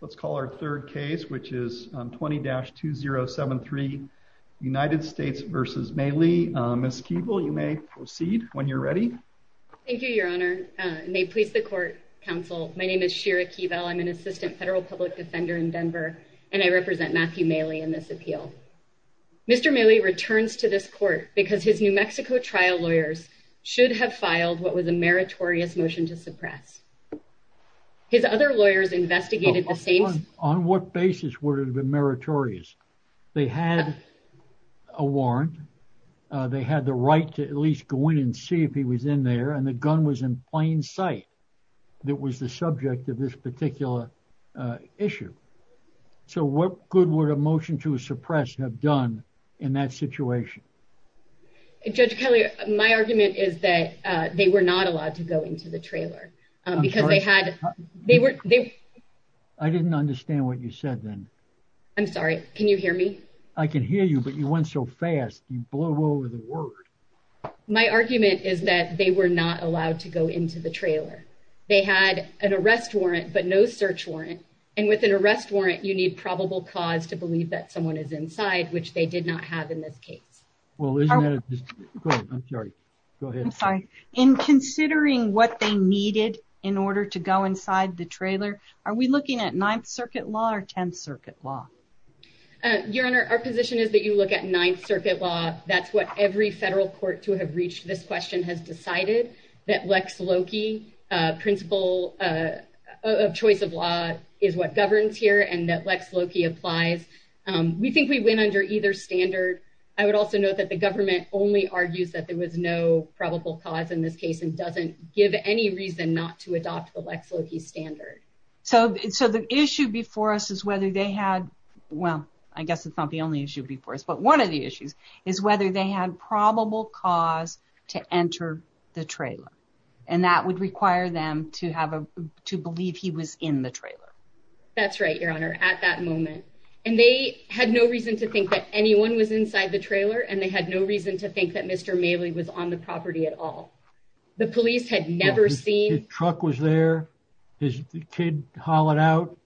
Let's call our third case, which is 20-2073 United States v. Maley. Ms. Keeble, you may proceed when you're ready. Thank you, Your Honor. May it please the Court, Counsel. My name is Shira Keeble. I'm an Assistant Federal Public Defender in Denver, and I represent Matthew Maley in this appeal. Mr. Maley returns to this court because his New Mexico trial lawyers should have filed what was a meritorious motion to suppress. His other lawyers investigated the same— On what basis would it have been meritorious? They had a warrant. They had the right to at least go in and see if he was in there, and the gun was in plain sight. It was the subject of this particular issue. So what good would a motion to suppress have done in that situation? Judge Kelly, my argument is that they were not allowed to go into the trailer. Because they had— I didn't understand what you said then. I'm sorry. Can you hear me? I can hear you, but you went so fast, you blew over the word. My argument is that they were not allowed to go into the trailer. They had an arrest warrant, but no search warrant. And with an arrest warrant, you need probable cause to believe that someone is inside, which they did not have in this case. Well, isn't that a—go ahead. I'm sorry. Go ahead. In considering what they needed in order to go inside the trailer, are we looking at Ninth Circuit law or Tenth Circuit law? Your Honor, our position is that you look at Ninth Circuit law. That's what every federal court to have reached this question has decided, that Lex Loki, principle of choice of law, is what governs here, and that Lex Loki applies. We think we went under either standard. I would also note that the government only argues that there was no probable cause in this case and doesn't give any reason not to adopt the Lex Loki standard. So the issue before us is whether they had— well, I guess it's not the only issue before us, but one of the issues is whether they had probable cause to enter the trailer, and that would require them to believe he was in the trailer. That's right, Your Honor, at that moment. And they had no reason to think that anyone was inside the trailer, and they had no reason to think that Mr. Maley was on the property at all. The police had never seen— His truck was there. His kid hollered out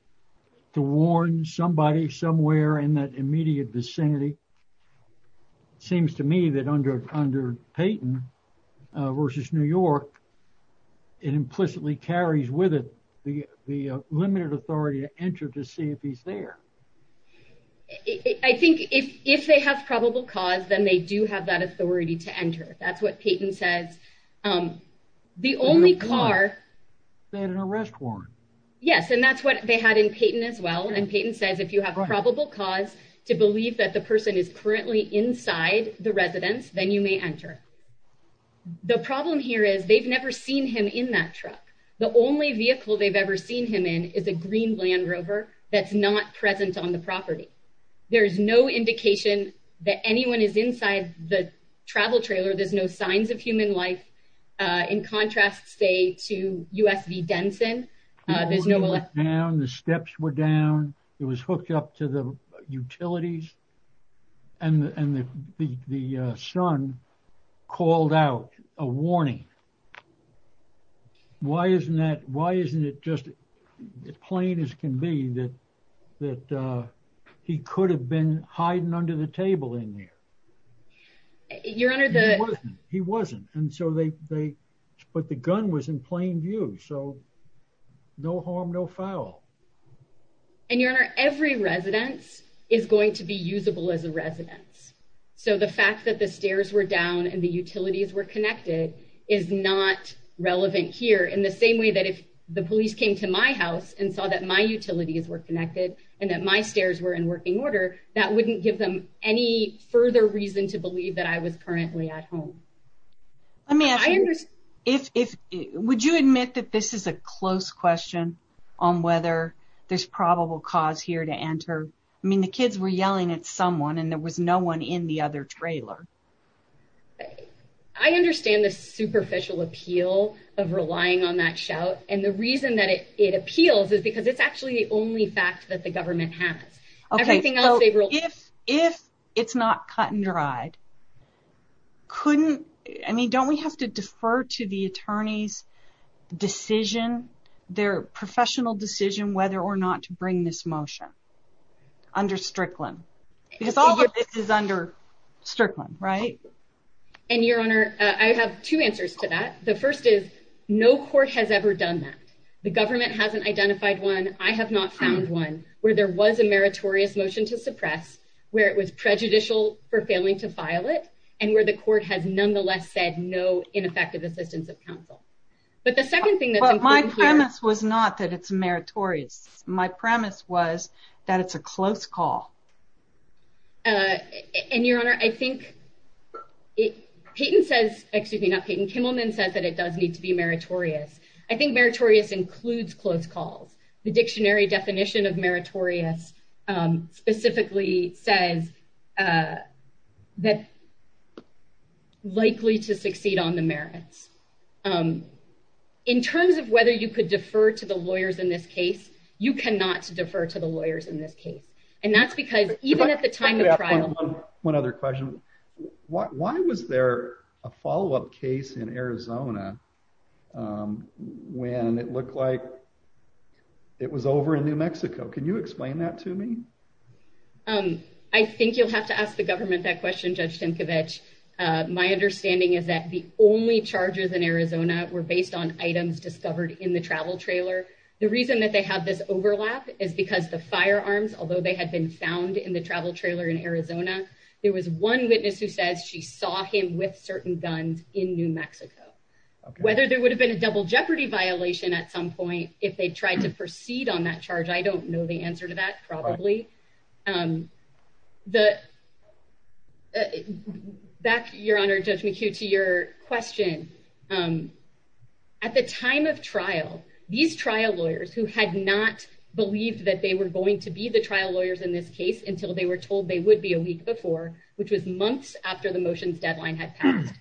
to warn somebody somewhere in that immediate vicinity. It seems to me that under Payton v. New York, it implicitly carries with it the limited authority to enter to see if he's there. I think if they have probable cause, then they do have that authority to enter. That's what Payton says. The only car— They had an arrest warrant. Yes, and that's what they had in Payton as well, and Payton says if you have probable cause to believe that the person is currently inside the residence, then you may enter. The problem here is they've never seen him in that truck. The only vehicle they've ever seen him in is a green Land Rover that's not present on the property. There's no indication that anyone is inside the travel trailer. There's no signs of human life. In contrast, say, to U.S. v. Denson, there's no— No, they were down. The steps were down. It was hooked up to the utilities, and the son called out a warning. Why isn't that— Why isn't it just plain as can be that he could have been hiding under the table in there? Your Honor, the— He wasn't. He wasn't, and so they— But the gun was in plain view, so no harm, no foul. And, Your Honor, every residence is going to be usable as a residence, so the fact that the stairs were down and the utilities were connected is not relevant here, in the same way that if the police came to my house and saw that my utilities were connected and that my stairs were in working order, that wouldn't give them any further reason to believe that I was currently at home. Let me ask you, would you admit that this is a close question on whether there's probable cause here to enter? I mean, the kids were yelling at someone, and there was no one in the other trailer. I understand the superficial appeal of relying on that shout, and the reason that it appeals is because it's actually the only fact that the government has. If it's not cut and dried, couldn't— I mean, don't we have to defer to the attorney's decision, their professional decision whether or not to bring this motion under Strickland? Because all of this is under Strickland, right? And, Your Honor, I have two answers to that. The first is, no court has ever done that. The government hasn't identified one. I have not found one where there was a meritorious motion to suppress, where it was prejudicial for failing to file it, and where the court has nonetheless said no ineffective assistance of counsel. But the second thing that's important here— But my premise was not that it's meritorious. My premise was that it's a close call. And, Your Honor, I think it— Peyton says—excuse me, not Peyton—Kimmelman says that it does need to be meritorious. I think meritorious includes close calls. The dictionary definition of meritorious specifically says that likely to succeed on the merits. In terms of whether you could defer to the lawyers in this case, you cannot defer to the lawyers in this case. And that's because even at the time of trial— One other question. Why was there a follow-up case in Arizona when it looked like it was over in New Mexico? Can you explain that to me? I think you'll have to ask the government that question, Judge Tinkovich. My understanding is that the only charges in Arizona were based on items discovered in the travel trailer. The reason that they have this overlap is because the firearms, although they had been found in the travel trailer in Arizona, there was one witness who says she saw him with certain guns in New Mexico. Whether there would have been a double jeopardy violation at some point, if they tried to proceed on that charge, I don't know the answer to that, probably. Back, Your Honor, Judge McHugh, to your question. At the time of trial, these trial lawyers, who had not believed that they were going to be the trial lawyers in this case until they were told they would be a week before, which was months after the motions deadline had passed.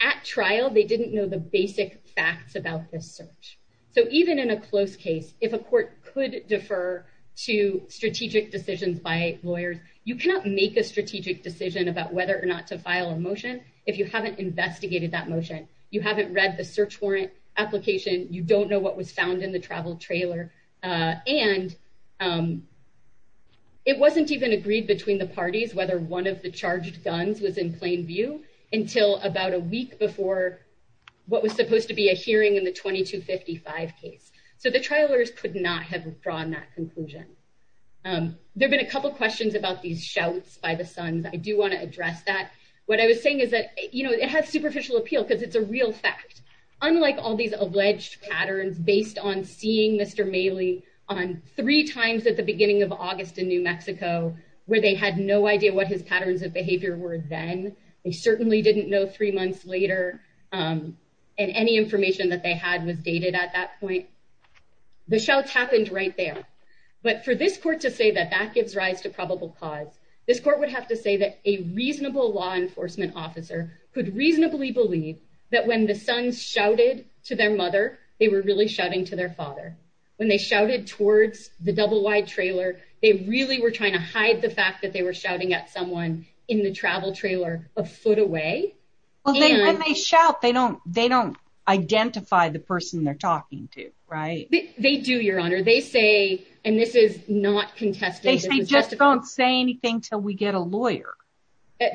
At trial, they didn't know the basic facts about this search. So even in a close case, if a court could defer to strategic decisions by lawyers, you cannot make a strategic decision about whether or not to file a motion if you haven't investigated that motion. You haven't read the search warrant application. You don't know what was found in the travel trailer. And it wasn't even agreed between the parties whether one of the charged guns was in plain view until about a week before what was supposed to be a hearing in the 2255 case. So the trial lawyers could not have drawn that conclusion. There have been a couple questions about these shouts by the sons. I do want to address that. What I was saying is that it has superficial appeal because it's a real fact. Unlike all these alleged patterns based on seeing Mr. Maley on three times at the beginning of August in New Mexico, where they had no idea what his patterns of behavior were then, they certainly didn't know three months later, and any information that they had was dated at that point. The shouts happened right there. But for this court to say that that gives rise to probable cause, this court would have to say that a reasonable law enforcement officer could reasonably believe that when the sons shouted to their mother, they were really shouting to their father. When they shouted towards the double-wide trailer, they really were trying to hide the fact that they were shouting at someone in the travel trailer a foot away. When they shout, they don't identify the person they're talking to, right? They do, Your Honor. They say, and this is not contested. They say, just don't say anything until we get a lawyer.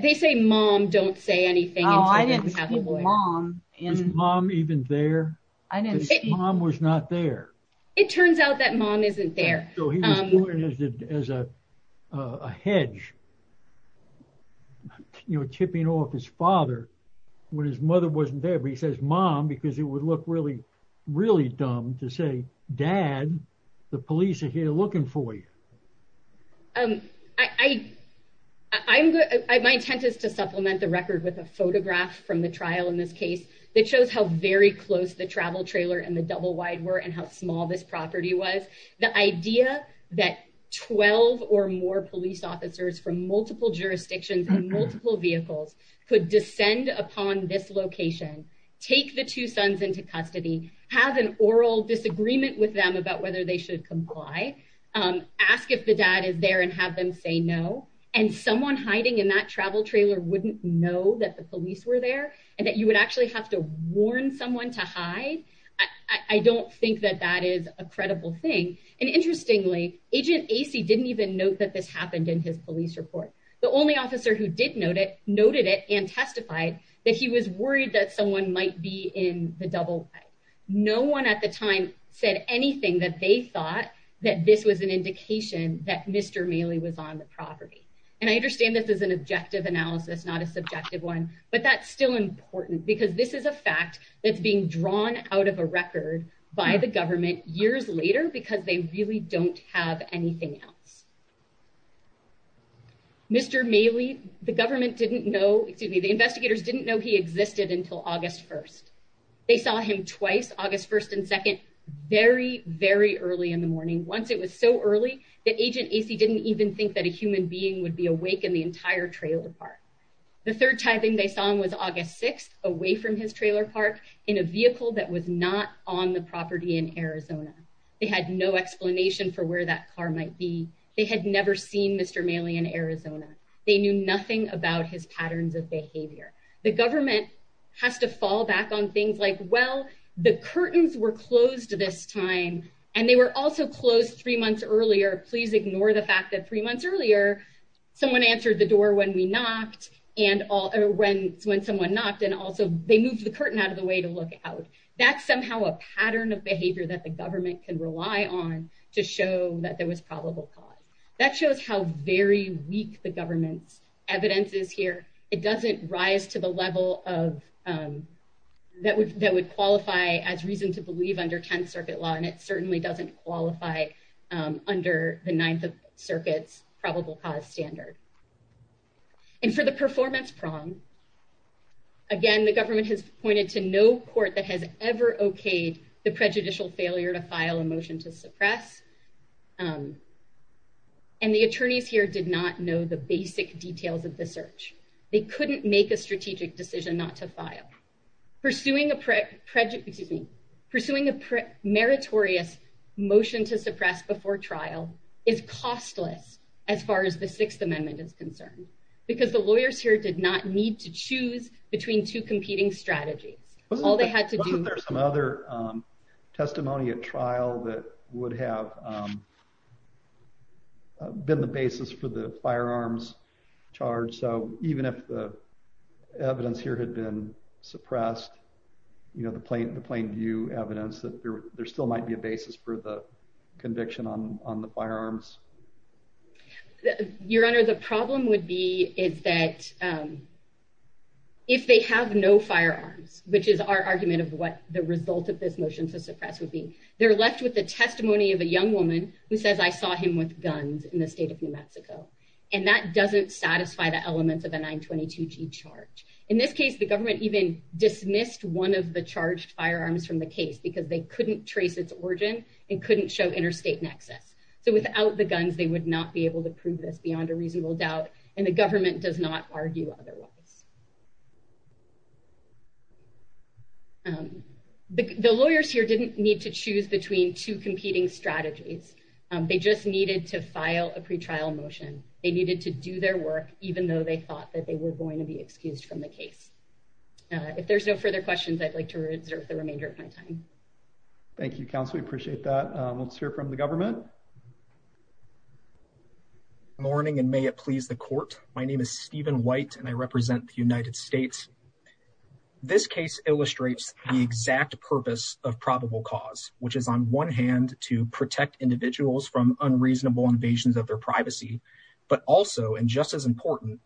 They say, mom, don't say anything until we have a lawyer. His mom even there? His mom was not there. It turns out that mom isn't there. So he was born as a hedge, tipping off his father when his mother wasn't there. But he says, mom, because it would look really, really dumb to say, dad, the police are here looking for you. My intent is to supplement the record with a photograph from the trial in this case that shows how very close the travel trailer and the double-wide were and how small this property was. The idea that 12 or more police officers from multiple jurisdictions and multiple vehicles could descend upon this location, take the two sons into custody, have an oral disagreement with them about whether they should comply, ask if the dad is there and have them say no. And someone hiding in that travel trailer wouldn't know that the police were there and that you would actually have to warn someone to hide. I don't think that that is a credible thing. And interestingly, agent AC didn't even note that this happened in his police report. The only officer who did note it, noted it and testified that he was worried that someone might be in the double. No one at the time said anything that they thought that this was an indication that Mr. Mailey was on the property. And I understand this as an objective analysis, not a subjective one, but that's still important because this is a fact that's being drawn out of a record by the government years later, because they really don't have anything else. Mr. Mailey, the government didn't know, excuse me, the investigators didn't know he existed until August 1st. They saw him twice, August 1st and 2nd, very, very early in the morning. Once it was so early that agent AC didn't even think that a human being would be awake in the entire trailer park. The third time they saw him was August 6th away from his trailer park in a vehicle that was not on the property in Arizona. They had no explanation for where that car might be. They had never seen Mr. Mailey in Arizona. They knew nothing about his patterns of behavior. The government has to fall back on things like, well, the curtains were closed this time and they were also closed three months earlier. Please ignore the fact that three months earlier, someone answered the door when we knocked and all or when, when someone knocked and also they moved the curtain out of the way to look out. That's somehow a pattern of behavior that the government can rely on to show that there was probable cause that shows how very weak the government's evidence is here. It doesn't rise to the level of that would, that would qualify as reason to believe under 10th circuit law. And it certainly doesn't qualify under the ninth circuits probable cause standard. And for the performance prong, again, the government has pointed to no court that has ever okayed the prejudicial failure to file a motion to suppress. Um, and the attorneys here did not know the basic details of the search. They couldn't make a strategic decision not to file pursuing a prick prejudice, excuse me, pursuing a meritorious motion to suppress before trial is costless as far as the sixth amendment is concerned because the lawyers here did not need to choose between two competing strategies. All they had to do. Is there some other, um, testimony at trial that would have, um, uh, been the basis for the firearms charge. So even if the evidence here had been suppressed, you know, the plain, the plain view evidence that there, there still might be a basis for the conviction on, on the firearms. You're under the problem would be is that, um, if they have no firearms, which is our argument of what the result of this motion to suppress would be, they're left with the testimony of a young woman who says I saw him with guns in the state of New Mexico. And that doesn't satisfy the elements of a nine 22 G charge. In this case, the government even dismissed one of the charged firearms from the case because they couldn't trace its origin and couldn't show interstate nexus. So without the guns, they would not be able to prove this beyond a reasonable doubt. And the government does not argue otherwise. Um, the, the lawyers here didn't need to choose between two competing strategies. Um, they just needed to file a pretrial motion. They needed to do their work, even though they thought that they were going to be excused from the case. Uh, if there's no further questions, I'd like to reserve the remainder of my time. Thank you, council. We appreciate that. Um, let's hear from the government. Morning and may it please the court. My name is Steven white and I represent the United States. This case illustrates the exact purpose of probable cause, which is on one hand to protect individuals from unreasonable invasions of their privacy, but also, and just as important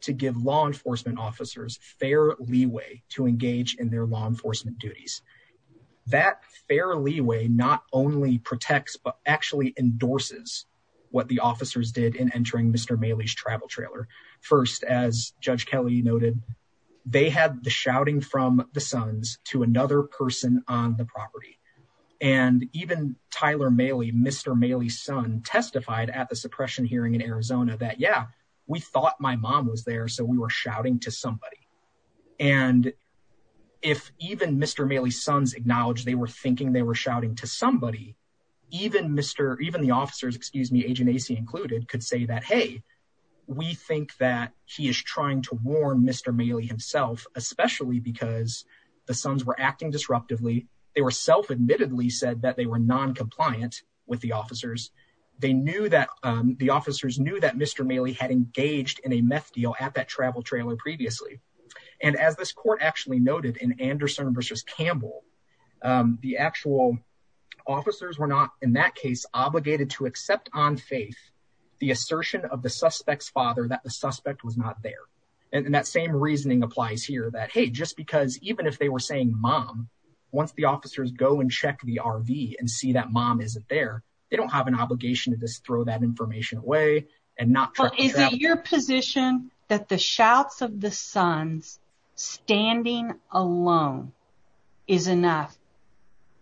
to give law enforcement officers fair leeway to engage in their law enforcement duties, that fairly way, not only protects, but actually endorses what the officers did in entering Mr. Mailey's travel trailer. First, as judge Kelly noted, they had the shouting from the sons to another person on the property. And even Tyler Mailey, Mr. Mailey's son testified at the suppression hearing in Arizona that yeah, we thought my mom was there. So we were shouting to somebody. And if even Mr. Mailey's sons acknowledged they were thinking they were shouting to somebody, even Mr. Even the officers, excuse me, agent AC included could say that, Hey, we think that he is trying to warn Mr. Mailey himself, especially because the sons were acting disruptively. They were self admittedly said that they were noncompliant with the officers. They knew that, um, the officers knew that Mr. Mailey had engaged in a meth deal at that travel trailer previously. And as this court actually noted in Anderson versus Campbell, um, the actual officers were not in that case, obligated to accept on faith the assertion of the suspect's father, that the suspect was not there. And that same reasoning applies here that, Hey, just because even if they were saying mom, once the officers go and check the RV and see that mom isn't there, they don't have an obligation to just throw that information away and not check the trailer. Is it your position that the shouts of the sons standing alone is enough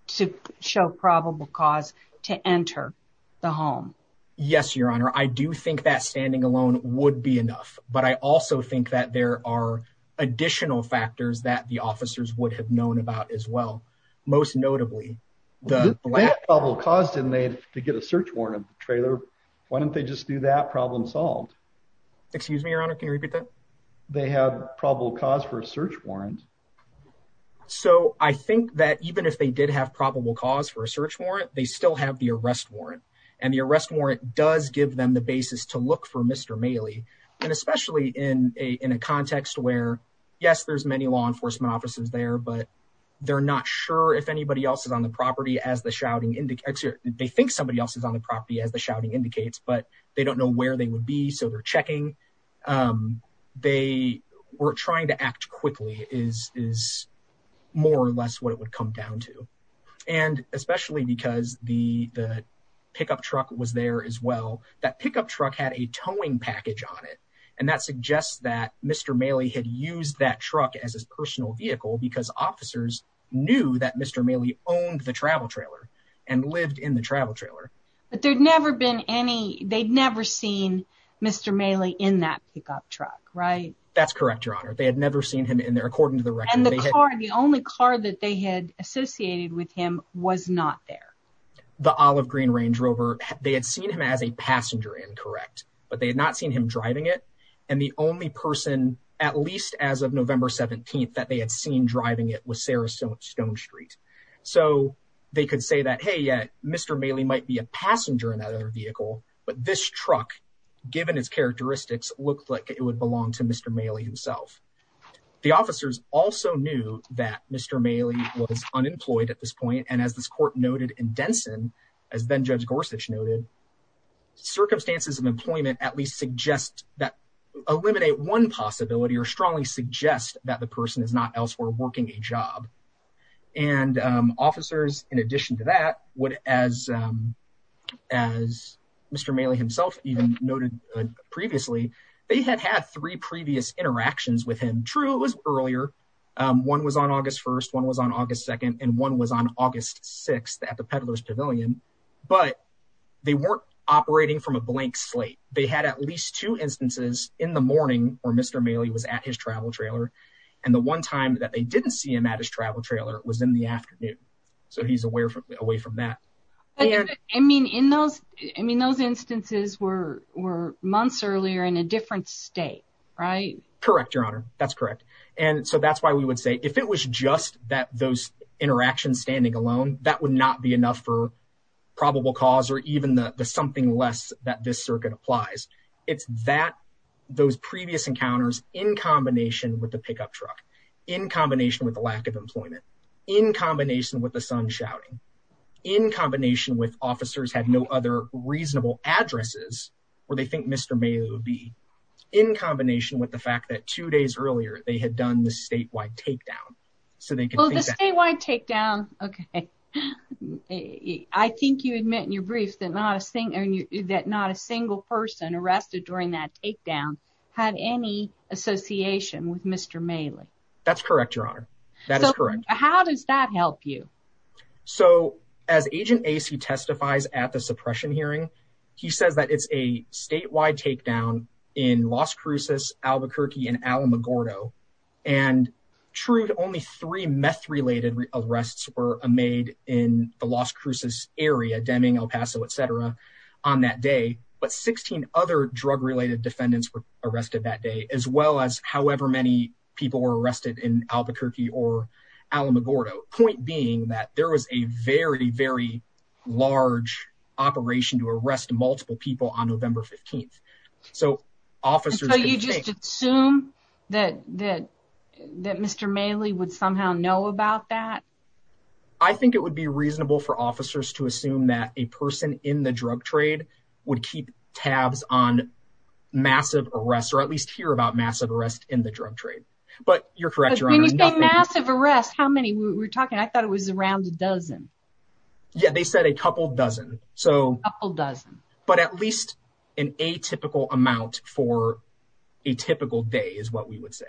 to show probable cause to enter the home? Yes, your honor. I do think that standing alone would be enough, but I also think that there are additional factors that the officers would have known about as well. Most notably, why don't they just do that problem solved? Excuse me, your honor. Can you repeat that? They have probable cause for a search warrant. So I think that even if they did have probable cause for a search warrant, they still have the arrest warrant and the arrest warrant does give them the basis to look for Mr. Mailey. And especially in a, in a context where yes, there's many law enforcement officers there, but they're not sure if anybody else is on the property as the shouting indicates or they think somebody else is on the property as the shouting indicates, but they don't know where they would be. So they're checking. They were trying to act quickly is, is more or less what it would come down to. And especially because the, the pickup truck was there as well. That pickup truck had a towing package on it. And that suggests that Mr. Mailey had used that truck as his personal vehicle because officers knew that Mr. Mailey owned the travel trailer and lived in the travel trailer. But there'd never been any, they'd never seen Mr. Mailey in that pickup truck, right? That's correct, your honor. They had never seen him in there according to the record. The only car that they had associated with him was not there. The olive green Range Rover. They had seen him as a passenger in correct, but they had not seen him driving it. And the only person at least as of November 17th that they had seen driving it was Sarah stone stone street. So they could say that, Hey, Mr. Mailey might be a passenger in that other vehicle, but this truck given its characteristics looked like it would belong to Mr. Mailey himself. The officers also knew that Mr. Mailey was unemployed at this point. And as this court noted in Denson, as then judge Gorsuch noted circumstances of employment, at least suggest that eliminate one possibility or strongly suggest that the job and officers, in addition to that, what, as, as Mr. Mailey himself even noted previously, they had had three previous interactions with him. True. It was earlier. One was on August 1st, one was on August 2nd and one was on August 6th at the Peddler's pavilion, but they weren't operating from a blank slate. They had at least two instances in the morning where Mr. Mailey was at his travel trailer. And the one time that they didn't see him at his travel trailer was in the afternoon. So he's aware of away from that. I mean, in those, I mean, those instances were, were months earlier in a different state, right? Correct. Your honor. That's correct. And so that's why we would say, if it was just that those interactions standing alone, that would not be enough for probable cause or even the, the something less that this circuit applies. It's that, that those previous encounters in combination with the pickup truck in combination with the lack of employment, in combination with the sun shouting in combination with officers had no other reasonable addresses where they think Mr. Mailey would be in combination with the fact that two days earlier they had done the statewide takedown. So they can. Well the statewide takedown. Okay. I think you admit in your brief that not a single, that not a single person arrested during that takedown had any association with Mr. Mailey. That's correct. Your honor. That is correct. How does that help you? So as agent AC testifies at the suppression hearing, he says that it's a statewide takedown in Las Cruces, Albuquerque and Alamogordo and true. Only three meth related arrests were made in the Las Cruces area, Deming El Paso, et cetera on that day. But 16 other drug related defendants were arrested that day as well as however many people were arrested in Albuquerque or Alamogordo point being that there was a very, very large operation to arrest multiple people on November 15th. So officers assume that, that that Mr. Mailey would somehow know about that. I think it would be reasonable for officers to assume that a person in the drug trade would keep tabs on massive arrests or at least hear about massive arrest in the drug trade. But you're correct. When you say massive arrest, how many we're talking? I thought it was around a dozen. Yeah. They said a couple dozen. So a couple dozen, but at least an atypical amount for a typical day is what we would say.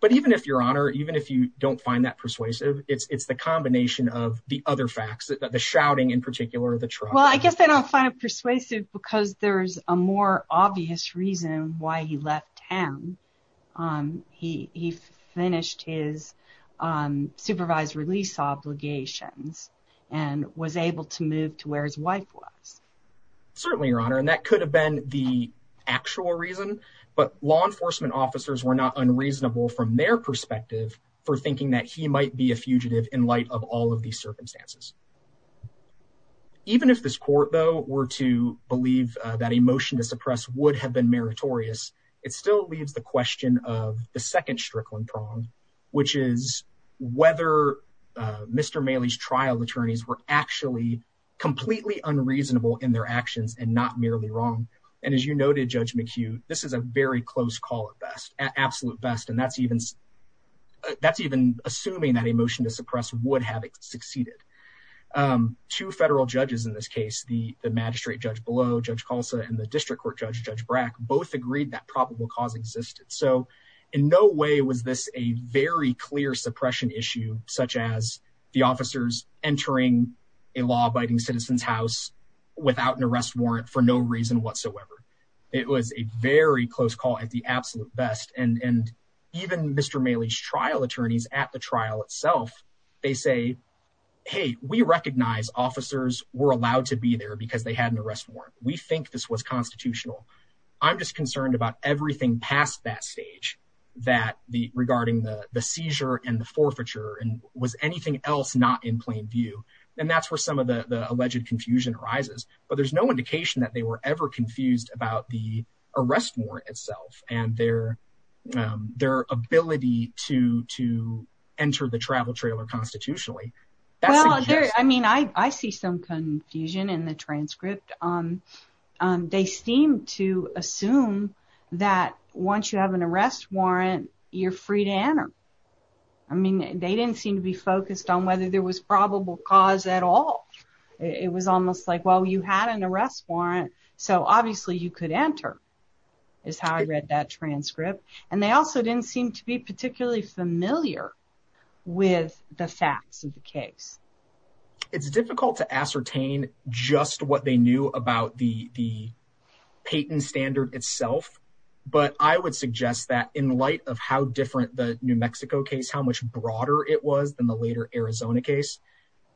But even if your honor, even if you don't find that persuasive, it's the combination of the other facts that the shouting in particular, the truck, I guess I don't find it persuasive because there's a more obvious reason why he left town. He, he finished his supervised release obligations and was able to move to where his wife was. Certainly your honor. And that could have been the actual reason, but law enforcement officers were not unreasonable from their perspective for thinking that he might be a fugitive in light of all of these circumstances. Even if this court though, were to believe that emotion to suppress would have been meritorious. It still leaves the question of the second Strickland prong, which is whether Mr. Maley's trial attorneys were actually completely unreasonable in their actions and not merely wrong. And as you noted, judge McHugh, this is a very close call at best absolute best. And that's even, that's even assuming that emotion to suppress would have succeeded to federal judges. In this case, the, the magistrate judge below judge Colson, and the district court judge, judge Brack, both agreed that probable cause existed. So in no way was this a very clear suppression issue such as the officers entering a law abiding citizens house without an arrest warrant for no reason whatsoever. It was a very close call at the absolute best. And even Mr. Maley's trial attorneys at the trial itself, they say, Hey, we recognize officers were allowed to be there because they had an arrest warrant. We think this was constitutional. I'm just concerned about everything past that stage that the regarding the seizure and the forfeiture and was anything else not in plain view. And that's where some of the alleged confusion arises, but there's no indication that they were ever confused about the arrest warrant itself and their their ability to, to enter the travel trailer constitutionally. I mean, I, I see some confusion in the transcript. They seem to assume that once you have an arrest warrant, you're free to enter. I mean, they didn't seem to be focused on whether there was probable cause at all. It was almost like, well, you had an arrest warrant, so obviously you could enter is how I read that transcript. And they also didn't seem to be particularly familiar with the facts of the case. It's difficult to ascertain just what they knew about the, the patent standard itself. But I would suggest that in light of how different the New Mexico case, how much broader it was than the later Arizona case,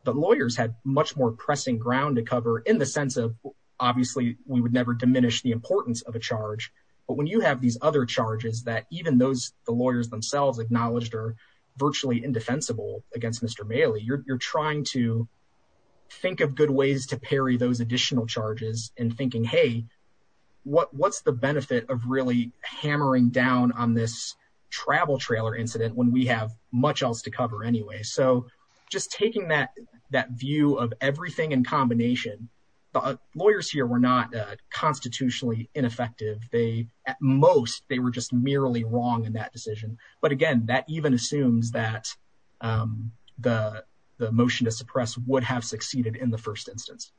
the lawyers had much more pressing ground to cover in the sense of obviously we would never diminish the importance of a charge, but when you have these other charges that even those, the lawyers themselves acknowledged are virtually indefensible against Mr. Mailey, you're, you're trying to think of good ways to parry those additional charges and thinking, Hey, what, what's the benefit of really hammering down on this travel trailer incident when we have much else to cover anyway. So just taking that, that view of everything in combination, the lawyers here were not a constitutionally ineffective. They, at most they were just merely wrong in that decision. But again, that even assumes that the, the motion to suppress would have succeeded in the first instance.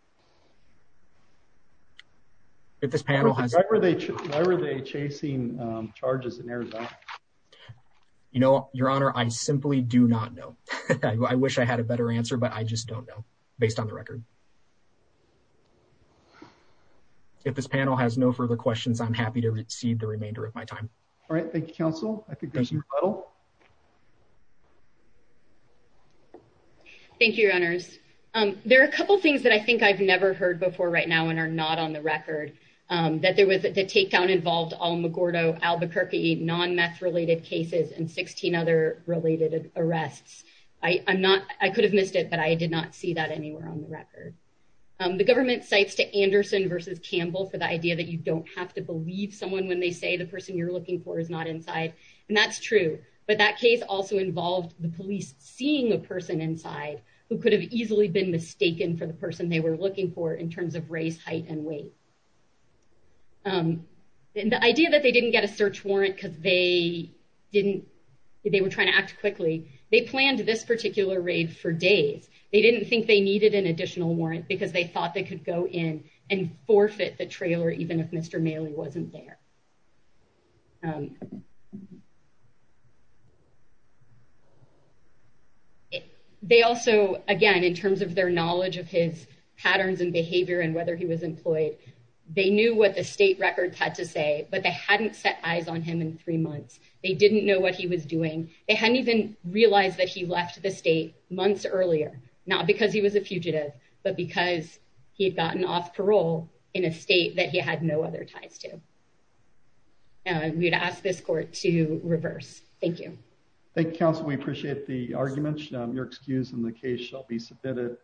If this panel has, Why were they chasing charges in Arizona? You know, your honor, I simply do not know. I wish I had a better answer, but I just don't know based on the record. If this panel has no further questions, I'm happy to receive the remainder of my time. All right. Thank you. Counsel. Thank you. Your honors. There are a couple of things that I think I've never heard before right now and are not on the record that there was at the takedown involved all Magordo Albuquerque, non meth related cases and 16 other related arrests. I I'm not, I could have missed it, but I did not see that anywhere on the record. The government sites to Anderson versus Campbell for the idea that you don't have to believe someone when they say the person you're looking for is not inside. And that's true. But that case also involved the police seeing a person inside who could have easily been mistaken for the person they were looking for in terms of race, height, and weight. And the idea that they didn't get a search warrant because they didn't, they were trying to act quickly. They planned this particular raid for days. They didn't think they needed an additional warrant because they thought they could go in and forfeit the trailer. Even if Mr. Mailey wasn't there. They also, again, in terms of their knowledge of his patterns and behavior and whether he was employed, they knew what the state records had to say, but they hadn't set eyes on him in three months. They didn't know what he was doing. They hadn't even realized that he left the state months earlier, not because he was a fugitive, but because he had gotten off parole in a state that he had no other ties to. We would ask this court to reverse. Thank you. Thank you, counsel. We appreciate the arguments. Your excuse in the case shall be submitted.